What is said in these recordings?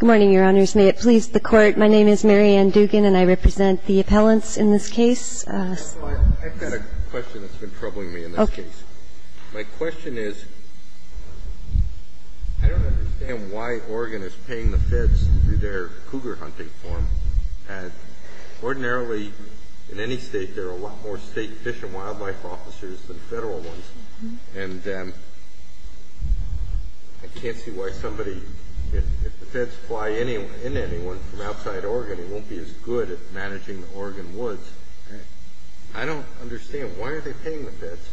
Good morning, Your Honors. May it please the Court, my name is Mary Ann Dugan, and I represent the appellants in this case. I've got a question that's been troubling me in this case. My question is, I don't understand why Oregon is paying the feds through their cougar hunting form. Ordinarily, in any state, there are a lot more state fish and wildlife officers than federal ones. And I can't see why somebody, if the feds fly in anyone from outside Oregon, he won't be as good at managing the Oregon woods. I don't understand. Why are they paying the feds?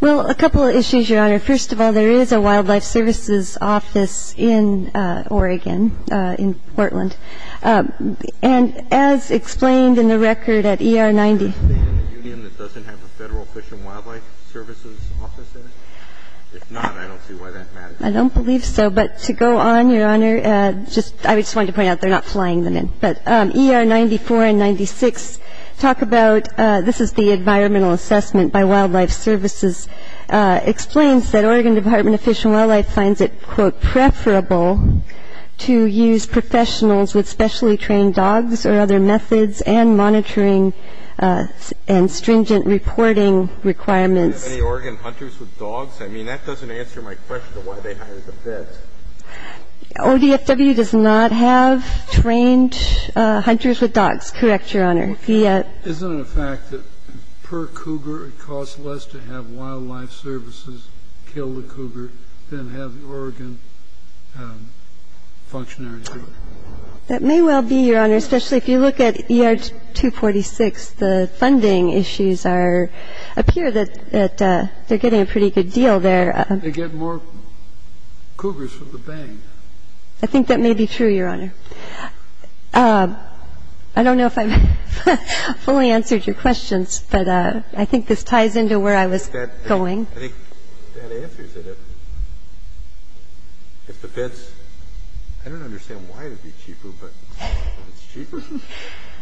Well, a couple of issues, Your Honor. First of all, there is a wildlife services office in Oregon, in Portland. And as explained in the record at ER 90, that doesn't have a federal fish and wildlife services office in it? If not, I don't see why that matters. I don't believe so. But to go on, Your Honor, I just wanted to point out, they're not flying them in. But ER 94 and 96 talk about, this is the environmental assessment by wildlife services, So I don't see why they're paying the feds and stringent reporting requirements. Do you have any Oregon hunters with dogs? I mean, that doesn't answer my question as to why they hire the feds. ODFW does not have trained hunters with dogs, correct, Your Honor? Isn't it a fact that per cougar, it costs less to have wildlife services kill the cougar than have the Oregon functionaries do it? That may well be, Your Honor, especially if you look at ER 246. The funding issues appear that they're getting a pretty good deal there. They get more cougars for the bang. I think that may be true, Your Honor. I don't know if I fully answered your questions, but I think this ties into where I was going. I think that answers it. If the feds, I don't understand why it would be cheaper, but it's cheaper.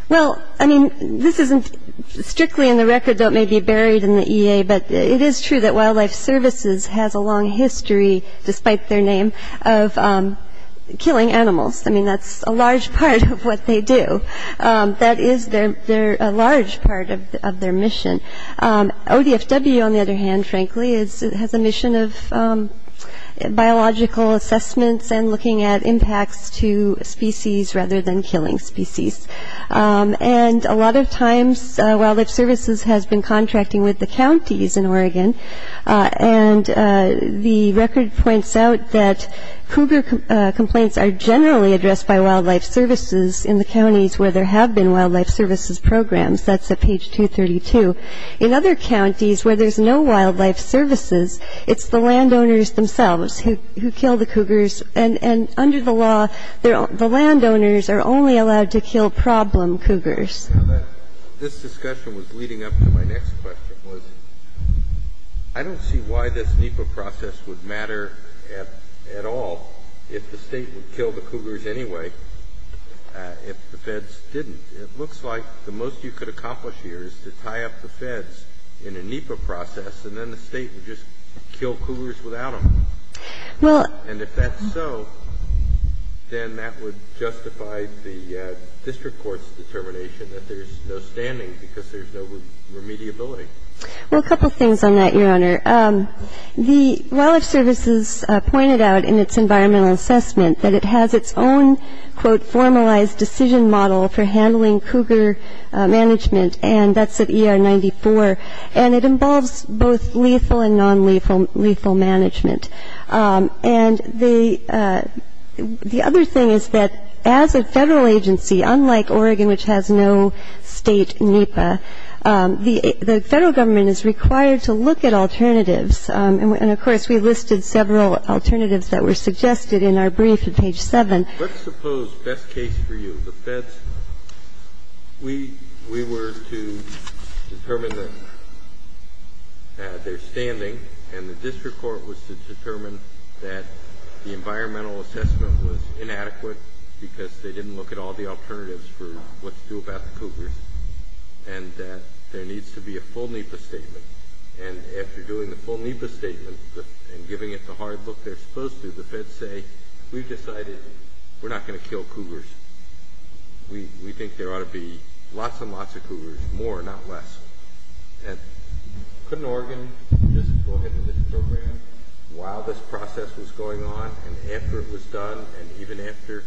Well, I mean, this isn't strictly in the record, though it may be buried in the EA, but it is true that wildlife services has a long history, despite their name, of killing animals. I mean, that's a large part of what they do. That is a large part of their mission. ODFW, on the other hand, frankly, has a mission of biological assessments and looking at impacts to species rather than killing species. And a lot of times, wildlife services has been contracting with the counties in Oregon, and the record points out that cougar complaints are generally addressed by wildlife services in the counties where there have been wildlife services programs. That's at page 232. In other counties where there's no wildlife services, it's the landowners themselves who kill the cougars, and under the law, the landowners are only allowed to kill problem cougars. Now, this discussion was leading up to my next question, was I don't see why this NEPA process would matter at all if the State would kill the cougars anyway if the feds didn't. It looks like the most you could accomplish here is to tie up the feds in a NEPA process, and then the State would just kill cougars without them. And if that's so, then that would justify the district court's determination that there's no standing because there's no remediability. Well, a couple things on that, Your Honor. The wildlife services pointed out in its environmental assessment that it has its own, quote, formalized decision model for handling cougar management, and that's at ER 94, and it involves both lethal and nonlethal management. And the other thing is that as a Federal agency, unlike Oregon, which has no State NEPA, the Federal Government is required to look at alternatives. And, of course, we listed several alternatives that were suggested in our brief at page 7. Let's suppose, best case for you, the feds, we were to determine their standing, and the district court was to determine that the environmental assessment was inadequate because they didn't look at all the alternatives for what to do about the cougars, and that there needs to be a full NEPA statement. And after doing the full NEPA statement and giving it the hard look they're supposed to, the feds say, we've decided we're not going to kill cougars. We think there ought to be lots and lots of cougars, more, not less. And couldn't Oregon just go ahead with this program while this process was going on and after it was done and even after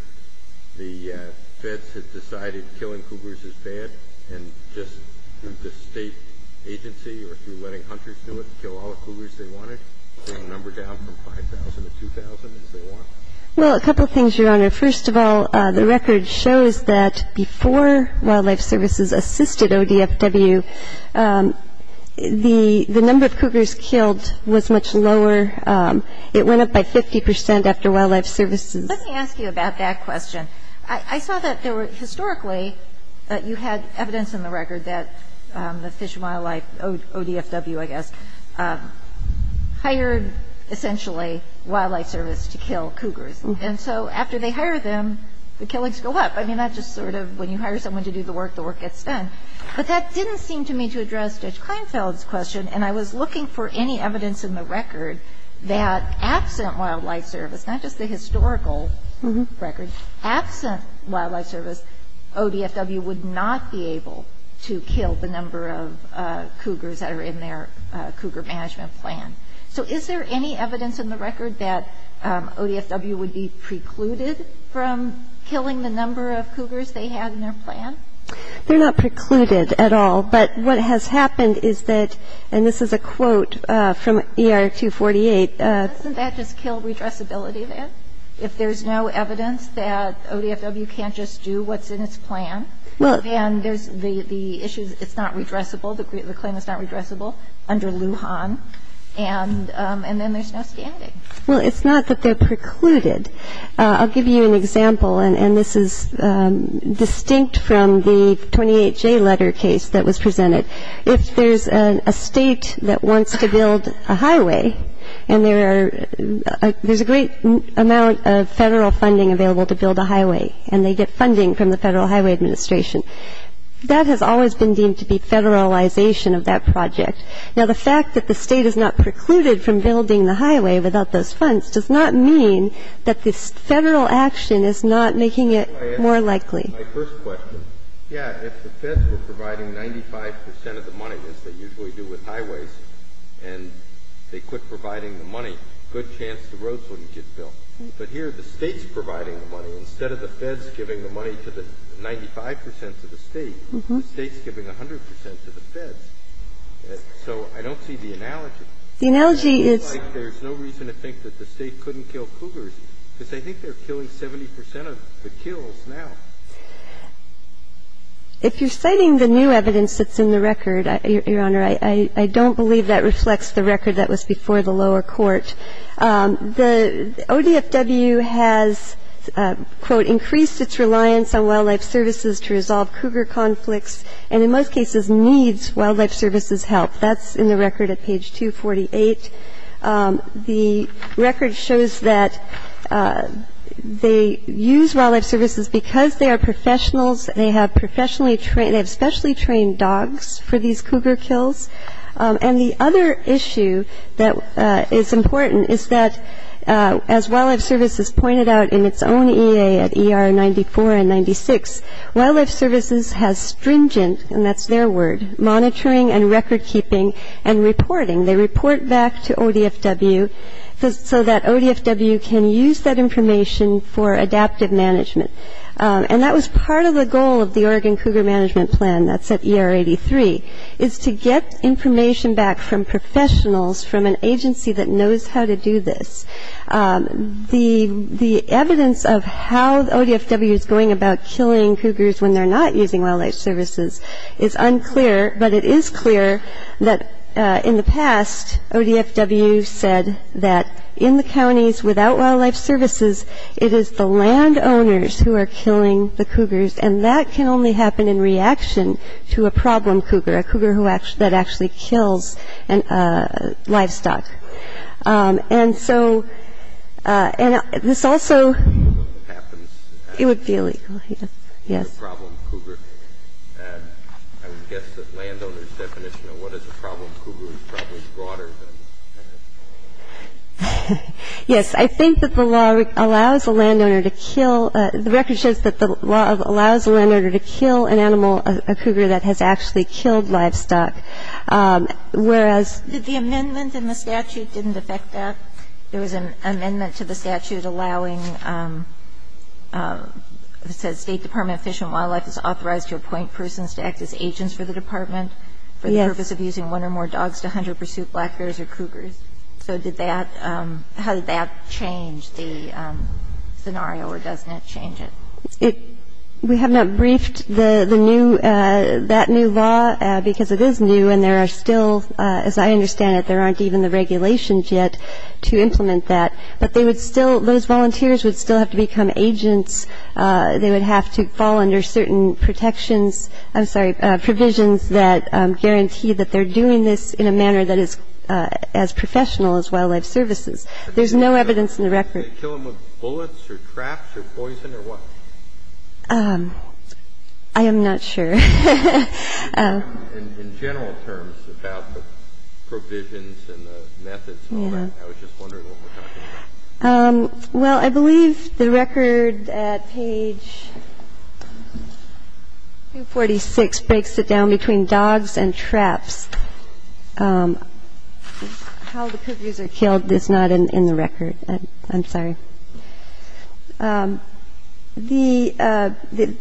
the feds had decided killing cougars is bad, and just through the State agency or through letting hunters do it, they can do whatever they want. They can number down from 5,000 to 2,000 as they want. Well, a couple of things, Your Honor. First of all, the record shows that before Wildlife Services assisted ODFW, the number of cougars killed was much lower. It went up by 50 percent after Wildlife Services. Let me ask you about that question. I saw that there were historically that you had evidence in the record that the Fish and Wildlife, ODFW, I guess, hired essentially Wildlife Service to kill cougars. And so after they hire them, the killings go up. I mean, that's just sort of when you hire someone to do the work, the work gets done. But that didn't seem to me to address Judge Kleinfeld's question, and I was looking for any evidence in the record that absent Wildlife Service, not just the historical record, absent Wildlife Service, ODFW would not be able to kill the number of cougars that are in their cougar management plan. So is there any evidence in the record that ODFW would be precluded from killing the number of cougars they had in their plan? They're not precluded at all. But what has happened is that, and this is a quote from ER 248. Doesn't that just kill redressability then? If there's no evidence that ODFW can't just do what's in its plan, then there's the issue, it's not redressable, the claim is not redressable under Lujan, and then there's no standing. Well, it's not that they're precluded. I'll give you an example, and this is distinct from the 28J letter case that was presented. If there's a State that wants to build a highway, and there's a great amount of Federal funding available to build a highway, and they get funding from the Federal Highway Administration, that has always been deemed to be Federalization of that project. Now, the fact that the State is not precluded from building the highway without those funds does not mean that this Federal action is not making it more likely. My first question, yeah, if the Feds were providing 95 percent of the money, as they usually do with highways, and they quit providing the money, good chance the roads wouldn't get built. But here the State's providing the money. Instead of the Feds giving the money to the 95 percent to the State, the State's giving 100 percent to the Feds. So I don't see the analogy. The analogy is... It seems like there's no reason to think that the State couldn't kill cougars, because they think they're killing 70 percent of the kills now. If you're citing the new evidence that's in the record, Your Honor, I don't believe that reflects the record that was before the lower court. The ODFW has, quote, increased its reliance on wildlife services to resolve cougar conflicts, and in most cases needs wildlife services help. That's in the record at page 248. The record shows that they use wildlife services because they are professionals, they have professionally trained, they have specially trained dogs for these cougar kills. And the other issue that is important is that, as wildlife services pointed out in its own EA at ER 94 and 96, wildlife services has stringent, and that's their word, monitoring and record keeping and reporting. They report back to ODFW so that ODFW can use that information for adaptive management. And that was part of the goal of the Oregon Cougar Management Plan, that's at ER 83, is to get information back from professionals, from an agency that knows how to do this. The evidence of how ODFW is going about killing cougars when they're not using wildlife services is unclear, but it is clear that in the past, ODFW said that in the counties without wildlife services, it is the landowners who are killing the cougars, and that can only happen in reaction to a problem cougar, a cougar that actually kills livestock. And so this also happens. It would be illegal. Yes. And I would guess that landowners' definition of what is a problem cougar is probably broader than that. Yes. I think that the law allows a landowner to kill the record shows that the law allows a landowner to kill an animal, a cougar that has actually killed livestock, whereas The amendment in the statute didn't affect that. There was an amendment to the statute allowing, it says, State Department of Fish and Wildlife is authorized to appoint persons to act as agents for the department for the purpose of using one or more dogs to hunt or pursue black bears or cougars. So did that, how did that change the scenario, or doesn't it change it? We have not briefed the new, that new law, because it is new, and there are still, as I understand it, there aren't even the regulations yet to implement that. But they would still, those volunteers would still have to become agents. They would have to fall under certain protections, I'm sorry, provisions that guarantee that they're doing this in a manner that is as professional as wildlife services. There's no evidence in the record. Do they kill them with bullets or traps or poison or what? I am not sure. In general terms, without the provisions and the methods and all that, I was just wondering what we're talking about. Well, I believe the record at page 246 breaks it down between dogs and traps. How the cougars are killed is not in the record. I'm sorry. The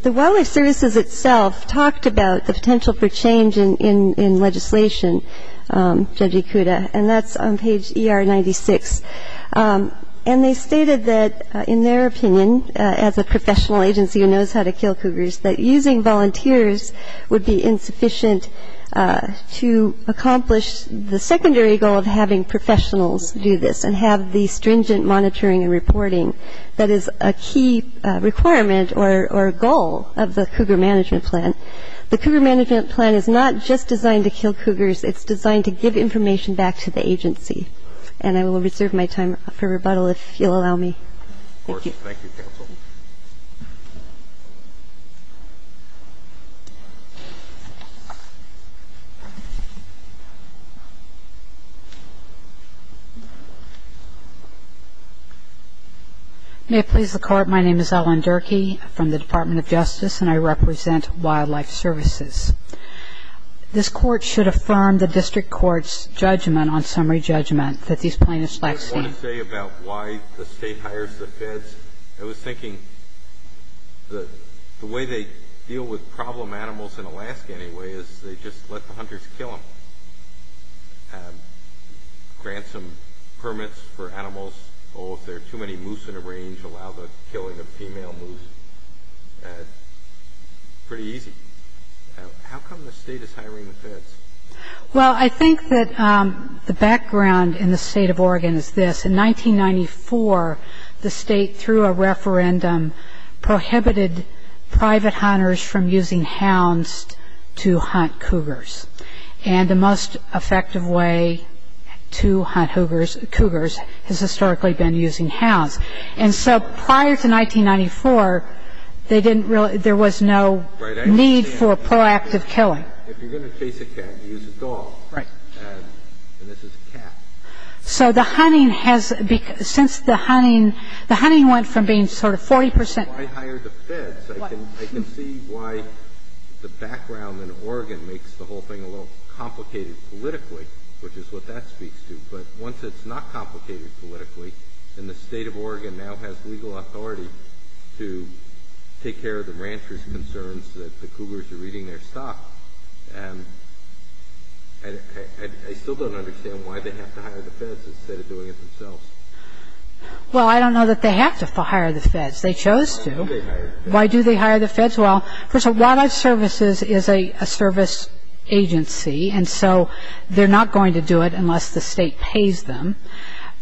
Wildlife Services itself talked about the potential for change in legislation, Judge Ikuda, and that's on page ER 96. And they stated that, in their opinion, as a professional agency who knows how to kill cougars, that using volunteers would be insufficient to accomplish the secondary goal of having professionals do this and have the stringent monitoring and reporting that is a key requirement or goal of the Cougar Management Plan. The Cougar Management Plan is not just designed to kill cougars. It's designed to give information back to the agency. And I will reserve my time for rebuttal if you'll allow me. Thank you. Thank you, Counsel. May it please the Court, my name is Ellen Durkee from the Department of Justice, and I represent Wildlife Services. This Court should affirm the District Court's judgment on summary judgment that these plaintiffs lack standards. I was going to say about why the State hires the feds. I was thinking the way they deal with problem animals in Alaska anyway is they just let the hunters kill them, grant some permits for animals. Oh, if there are too many moose in a range, allow the killing of female moose. Pretty easy. How come the State is hiring the feds? Well, I think that the background in the State of Oregon is this. In 1994, the State, through a referendum, prohibited private hunters from using hounds to hunt cougars. And the most effective way to hunt cougars has historically been using hounds. And so prior to 1994, there was no need for proactive killing. If you're going to chase a cat, you use a dog. Right. And this is a cat. So the hunting has been, since the hunting, the hunting went from being sort of 40 percent. So why hire the feds? I can see why the background in Oregon makes the whole thing a little complicated politically, which is what that speaks to. But once it's not complicated politically, then the State of Oregon now has legal authority to take care of the ranchers' concerns that the cougars are eating their stock. And I still don't understand why they have to hire the feds instead of doing it themselves. Well, I don't know that they have to hire the feds. They chose to. Why do they hire the feds? Why do they hire the feds? Well, first of all, Wildlife Services is a service agency, and so they're not going to do it unless the State pays them.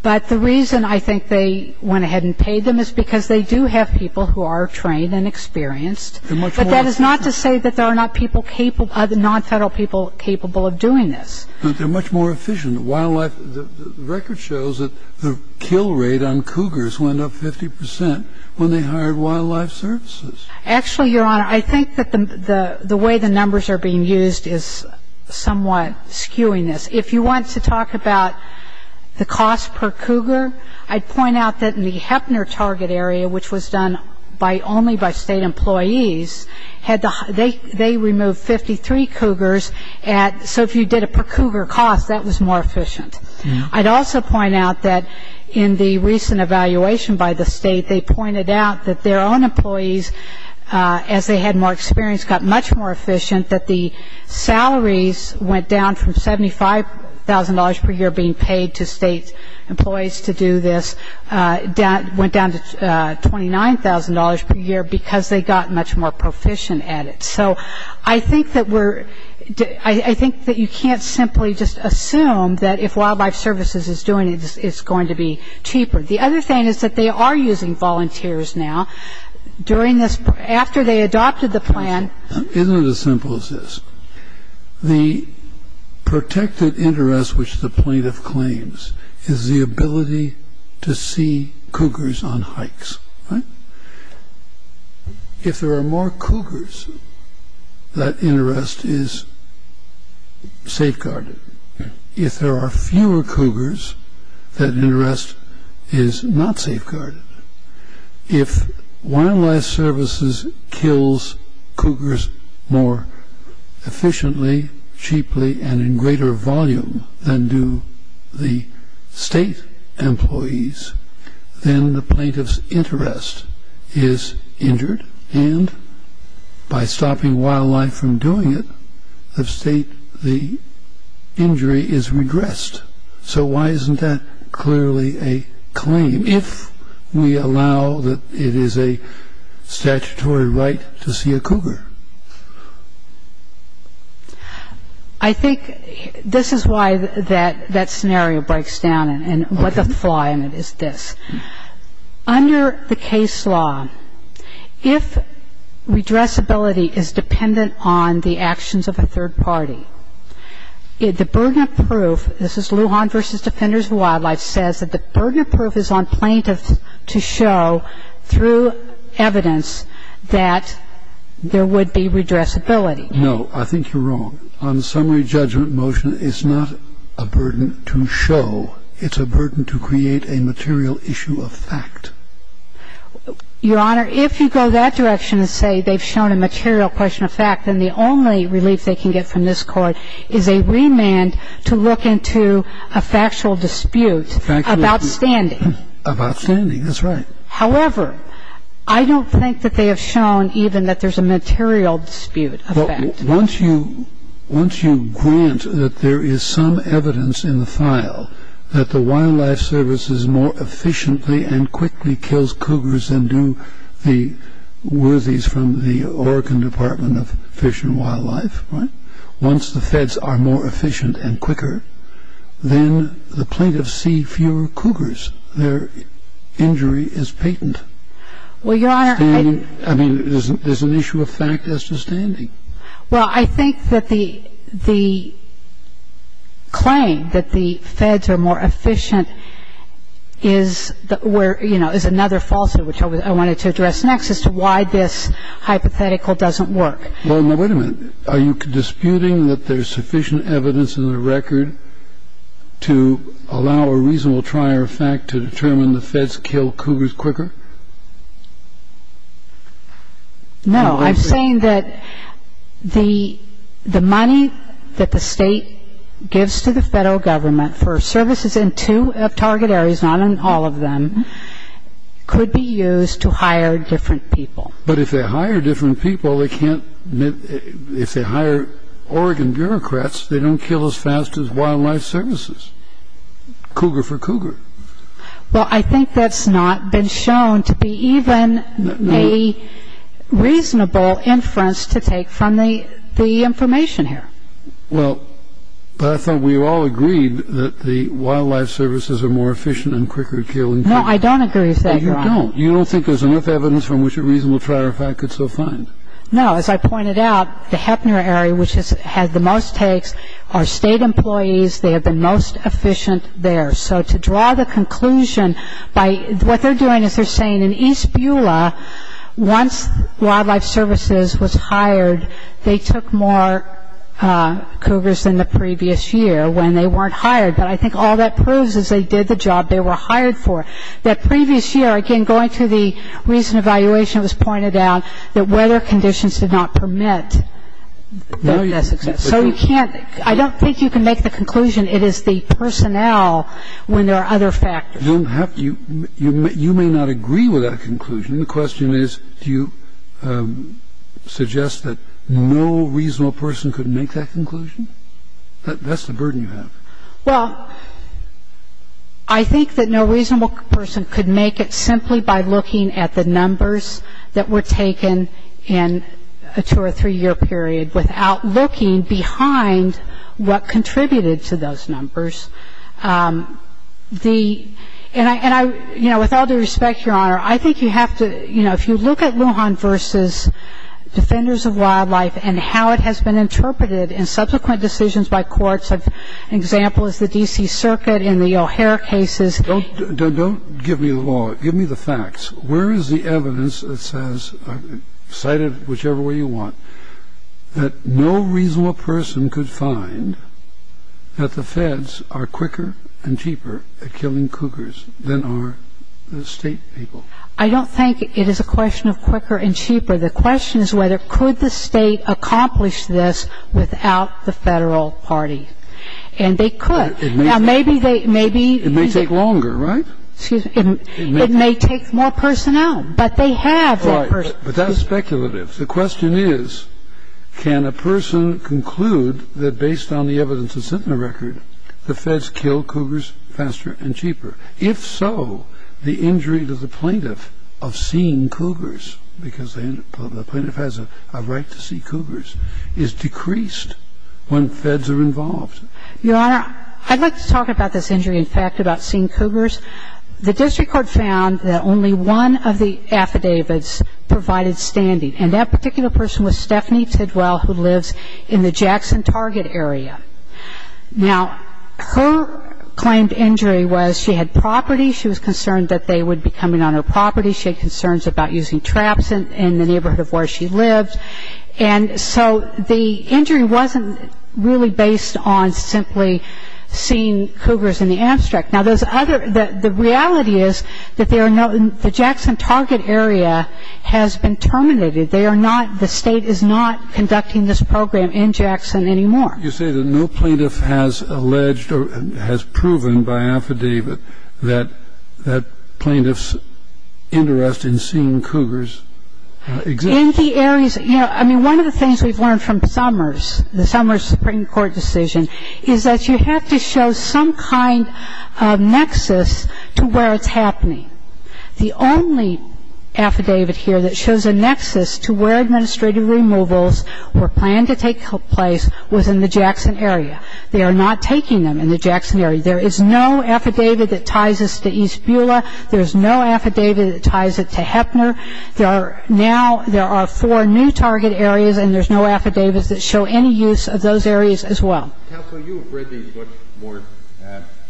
But the reason I think they went ahead and paid them is because they do have people who are trained and experienced. But that is not to say that there are not people capable, non-federal people capable of doing this. But they're much more efficient. Wildlife, the record shows that the kill rate on cougars went up 50 percent when they hired Wildlife Services. Actually, Your Honor, I think that the way the numbers are being used is somewhat skewing this. If you want to talk about the cost per cougar, I'd point out that in the Heppner target area, which was done only by State employees, they removed 53 cougars. So if you did it per cougar cost, that was more efficient. I'd also point out that in the recent evaluation by the State, they pointed out that their own employees, as they had more experience, got much more efficient, that the salaries went down from $75,000 per year being paid to State employees to do this, went down to $29,000 per year because they got much more proficient at it. So I think that you can't simply just assume that if Wildlife Services is doing it, it's going to be cheaper. The other thing is that they are using volunteers now. They are using volunteers. And I think that it's fair to say that they are using volunteers to try to protect the cougars during this – after they adopted the plan. Isn't it as simple as this? The protected interest, which the plaintiff claims, is the ability to see cougars on hikes, right? If Wildlife Services kills cougars more efficiently, cheaply, and in greater volume than do the state employees, then the plaintiff's interest is injured. And by stopping wildlife from doing it, the state – the injury is regressed. So why isn't that clearly a claim? If we allow that it is a statutory right to see a cougar. I think this is why that scenario breaks down, and what the flaw in it is this. Under the case law, if redressability is dependent on the actions of a third party, the burden of proof, this is Lujan v. Defenders of Wildlife, says that the burden of proof is on plaintiffs to show through evidence that there would be redressability. No. I think you're wrong. On the summary judgment motion, it's not a burden to show. It's a burden to create a material issue of fact. Your Honor, if you go that direction and say they've shown a material question of fact, then the only relief they can get from this court is a remand to look into a factual dispute about standing. About standing. That's right. However, I don't think that they have shown even that there's a material dispute of fact. Once you grant that there is some evidence in the file that the Wildlife Service is more efficiently and quickly kills cougars than do the worthies from the Oregon Department of Fish and Wildlife, once the feds are more efficient and quicker, then the plaintiffs see fewer cougars. Their injury is patent. Well, Your Honor, I... I mean, there's an issue of fact as to standing. Well, I think that the claim that the feds are more efficient is where, you know, is another falsehood, which I wanted to address next, as to why this hypothetical doesn't work. Well, now, wait a minute. Are you disputing that there's sufficient evidence in the record to allow a reasonable trier of fact to determine the feds kill cougars quicker? No. I'm saying that the money that the state gives to the federal government for services in two of target areas, not in all of them, could be used to hire different people. But if they hire different people, they can't... if they hire Oregon bureaucrats, they don't kill as fast as Wildlife Services. Cougar for cougar. Well, I think that's not been shown to be even a reasonable inference to take from the information here. Well, but I thought we all agreed that the Wildlife Services are more efficient and quicker at killing cougars. No, I don't agree with that, Your Honor. You don't? You don't think there's enough evidence from which a reasonable trier of fact could so find? No. As I pointed out, the Heppner area, which has had the most takes, are state employees. They have been most efficient there. So to draw the conclusion by... what they're doing is they're saying in East Beulah, once Wildlife Services was hired, they took more cougars than the previous year when they weren't hired. But I think all that proves is they did the job they were hired for. That previous year, again, going through the recent evaluation, it was pointed out that weather conditions did not permit. No, Your Honor. So you can't... I don't think you can make the conclusion. It is the personnel when there are other factors. You don't have to. You may not agree with that conclusion. The question is, do you suggest that no reasonable person could make that conclusion? That's the burden you have. Well, I think that no reasonable person could make it simply by looking at the numbers that were taken in a two- or three-year period without looking behind what contributed to those numbers. And, you know, with all due respect, Your Honor, I think you have to, you know, if you look at Lujan v. Defenders of Wildlife and how it has been interpreted in subsequent decisions by courts, an example is the D.C. Circuit in the O'Hare cases. Give me the facts. Where is the evidence that says, cite it whichever way you want, that no reasonable person could find that the feds are quicker and cheaper at killing cougars than are the state people? I don't think it is a question of quicker and cheaper. The question is whether could the state accomplish this without the federal party. And they could. Now, maybe they... It may take longer, right? Excuse me. It may take more personnel, but they have that person. Right. But that's speculative. The question is, can a person conclude that based on the evidence that's in the record, the feds kill cougars faster and cheaper? If so, the injury to the plaintiff of seeing cougars, because the plaintiff has a right to see cougars, is decreased when feds are involved. Your Honor, I'd like to talk about this injury in fact, about seeing cougars. The district court found that only one of the affidavits provided standing, and that particular person was Stephanie Tidwell, who lives in the Jackson Target area. Now, her claimed injury was she had property. She was concerned that they would be coming on her property. She had concerns about using traps in the neighborhood of where she lived. And so the injury wasn't really based on simply seeing cougars in the abstract. Now, the reality is that the Jackson Target area has been terminated. They are not, the state is not conducting this program in Jackson anymore. You say that no plaintiff has alleged or has proven by affidavit that plaintiff's interest in seeing cougars exists. In the areas, you know, I mean, one of the things we've learned from Summers, the Summers Supreme Court decision, is that you have to show some kind of nexus to where it's happening. The only affidavit here that shows a nexus to where administrative removals were planned to take place was in the Jackson area. They are not taking them in the Jackson area. There is no affidavit that ties us to East Beulah. There is no affidavit that ties it to Heppner. Now there are four new target areas, and there's no affidavits that show any use of those areas as well. Counsel, you have read these books more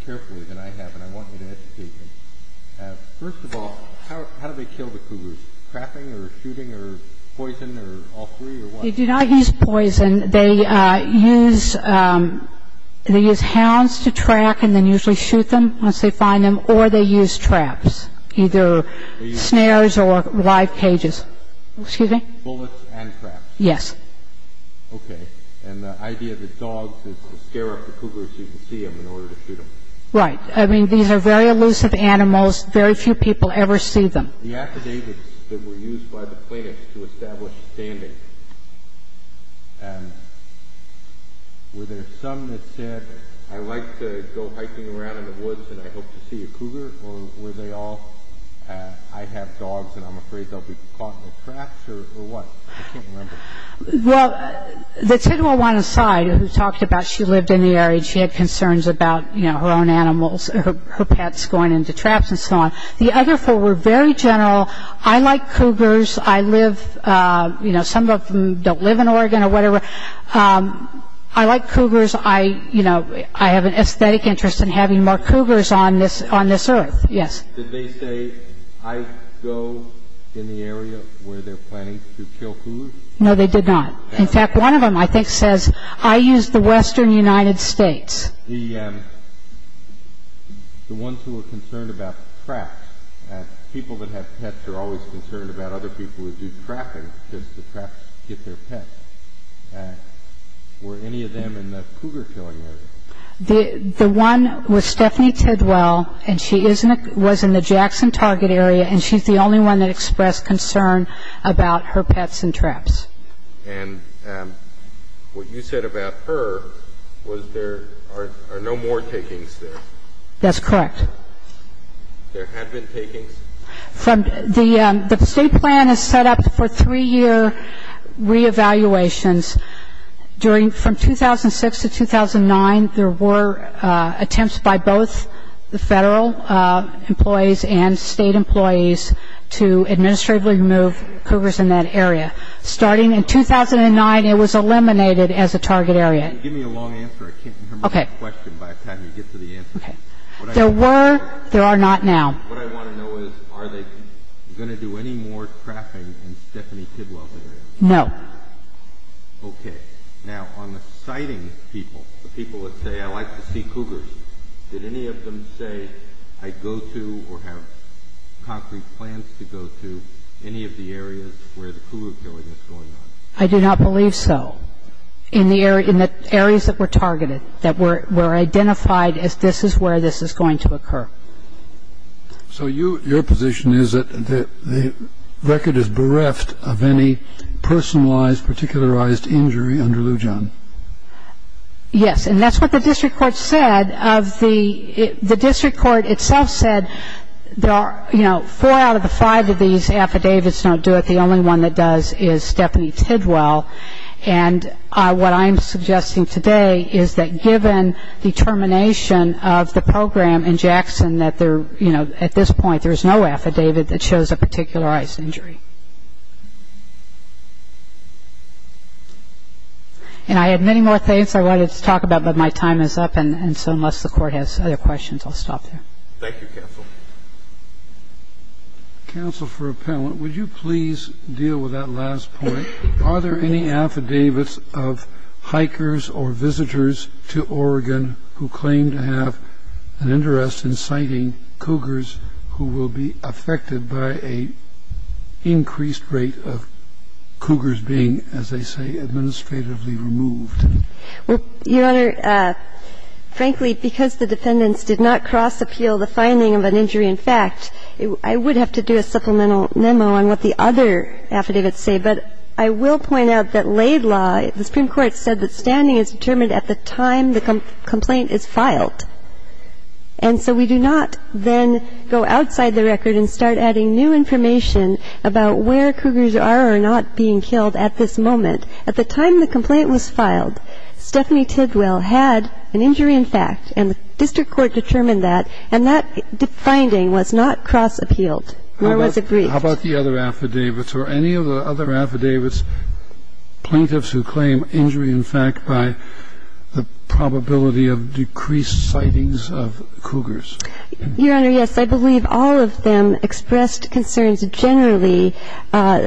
carefully than I have, and I want you to educate me. First of all, how do they kill the cougars? Trapping or shooting or poison or all three or what? They do not use poison. They use hounds to track and then usually shoot them once they find them, or they use traps, either snares or live cages. Excuse me? Bullets and traps. Yes. Okay. And the idea of the dogs is to scare up the cougars so you can see them in order to shoot them. Right. I mean, these are very elusive animals. Very few people ever see them. The affidavits that were used by the plaintiffs to establish standing, were there some that said, I like to go hiking around in the woods and I hope to see a cougar, or were they all, I have dogs and I'm afraid they'll be caught in the traps or what? I can't remember. Well, the 10-1-1 aside who talked about she lived in the area, she had concerns about, you know, her own animals, her pets going into traps and so on. The other four were very general. I like cougars. I live, you know, some of them don't live in Oregon or whatever. I like cougars. I, you know, I have an aesthetic interest in having more cougars on this earth. Yes. Did they say, I go in the area where they're planning to kill cougars? No, they did not. In fact, one of them I think says, I use the western United States. The ones who are concerned about traps, people that have pets are always concerned about other people who do trapping or just the traps to get their pets. Were any of them in the cougar killing area? The one with Stephanie Tidwell, and she was in the Jackson target area, and she's the only one that expressed concern about her pets and traps. And what you said about her was there are no more takings there. That's correct. There had been takings? The state plan is set up for three-year reevaluations. From 2006 to 2009, there were attempts by both the Federal employees and State employees to administratively remove cougars in that area. Starting in 2009, it was eliminated as a target area. Give me a long answer. I can't remember the question by the time you get to the answer. There were. There are not now. What I want to know is, are they going to do any more trapping in Stephanie Tidwell's area? No. Okay. Now, on the sighting people, the people that say, I like to see cougars, did any of them say, I go to or have concrete plans to go to any of the areas where the cougar killing is going on? I do not believe so. In the areas that were targeted, that were identified as this is where this is going to occur. So your position is that the record is bereft of any personalized, particularized injury under Lou John? Yes. And that's what the district court said. The district court itself said, you know, four out of the five of these affidavits don't do it. The only one that does is Stephanie Tidwell. And what I'm suggesting today is that given the termination of the program in Jackson, that there, you know, at this point, there's no affidavit that shows a particularized injury. And I have many more things I wanted to talk about, but my time is up. And so unless the Court has other questions, I'll stop there. Thank you, counsel. Counsel for appellant, would you please deal with that last point? Are there any affidavits of hikers or visitors to Oregon who claim to have an interest in sighting cougars who will be affected by an increased rate of cougars being, Your Honor, frankly, because the defendants did not cross-appeal the finding of an injury in fact, I would have to do a supplemental memo on what the other affidavits say. But I will point out that laid law, the Supreme Court said that standing is determined at the time the complaint is filed. And so we do not then go outside the record and start adding new information about where cougars are or are not being killed at this moment. At the time the complaint was filed, Stephanie Tidwell had an injury in fact. And the district court determined that. And that finding was not cross-appealed, nor was it briefed. How about the other affidavits or any of the other affidavits, plaintiffs who claim injury in fact by the probability of decreased sightings of cougars? Your Honor, yes. I believe all of them expressed concerns generally.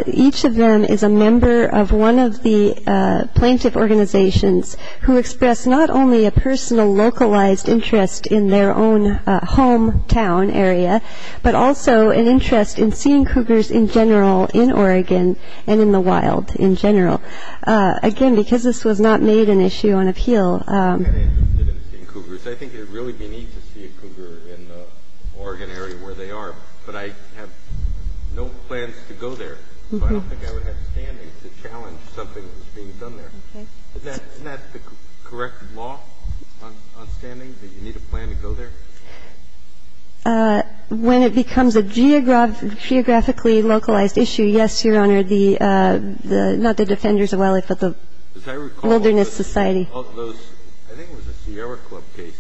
Each of them is a member of one of the plaintiff organizations who expressed not only a personal localized interest in their own hometown area, but also an interest in seeing cougars in general in Oregon and in the wild in general. Again, because this was not made an issue on appeal. I'm not interested in seeing cougars. I think it would really be neat to see a cougar in the Oregon area where they are. But I have no plans to go there. So I don't think I would have standings to challenge something that was being done there. Isn't that the correct law on standings, that you need a plan to go there? When it becomes a geographically localized issue, yes, Your Honor. Not the Defenders of Wildlife, but the Wilderness Society. I think it was a Sierra Club case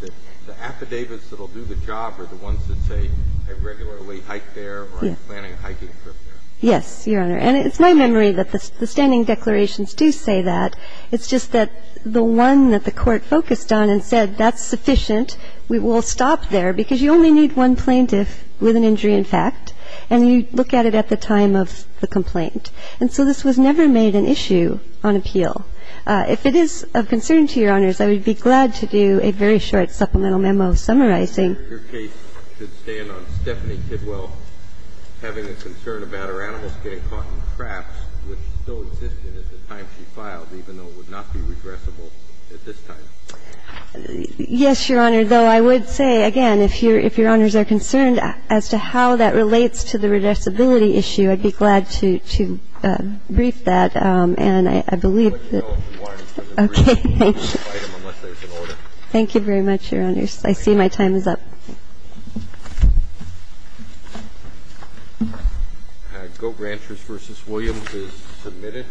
that the affidavits that will do the job are the ones that say I regularly hike there or I'm planning a hiking trip there. Yes, Your Honor. And it's my memory that the standing declarations do say that. It's just that the one that the Court focused on and said that's sufficient, we'll stop there, because you only need one plaintiff with an injury in fact. And you look at it at the time of the complaint. And so this was never made an issue on appeal. If it is of concern to Your Honors, I would be glad to do a very short supplemental memo summarizing. Your case should stand on Stephanie Kidwell having a concern about her animals getting caught in traps, which still existed at the time she filed, even though it would not be regressible at this time. Yes, Your Honor. Though I would say, again, if Your Honors are concerned as to how that relates to the regressibility issue, I'd be glad to brief that. And I believe that. Okay. Thank you very much, Your Honors. I see my time is up. Goat Ranchers v. Williams is submitted.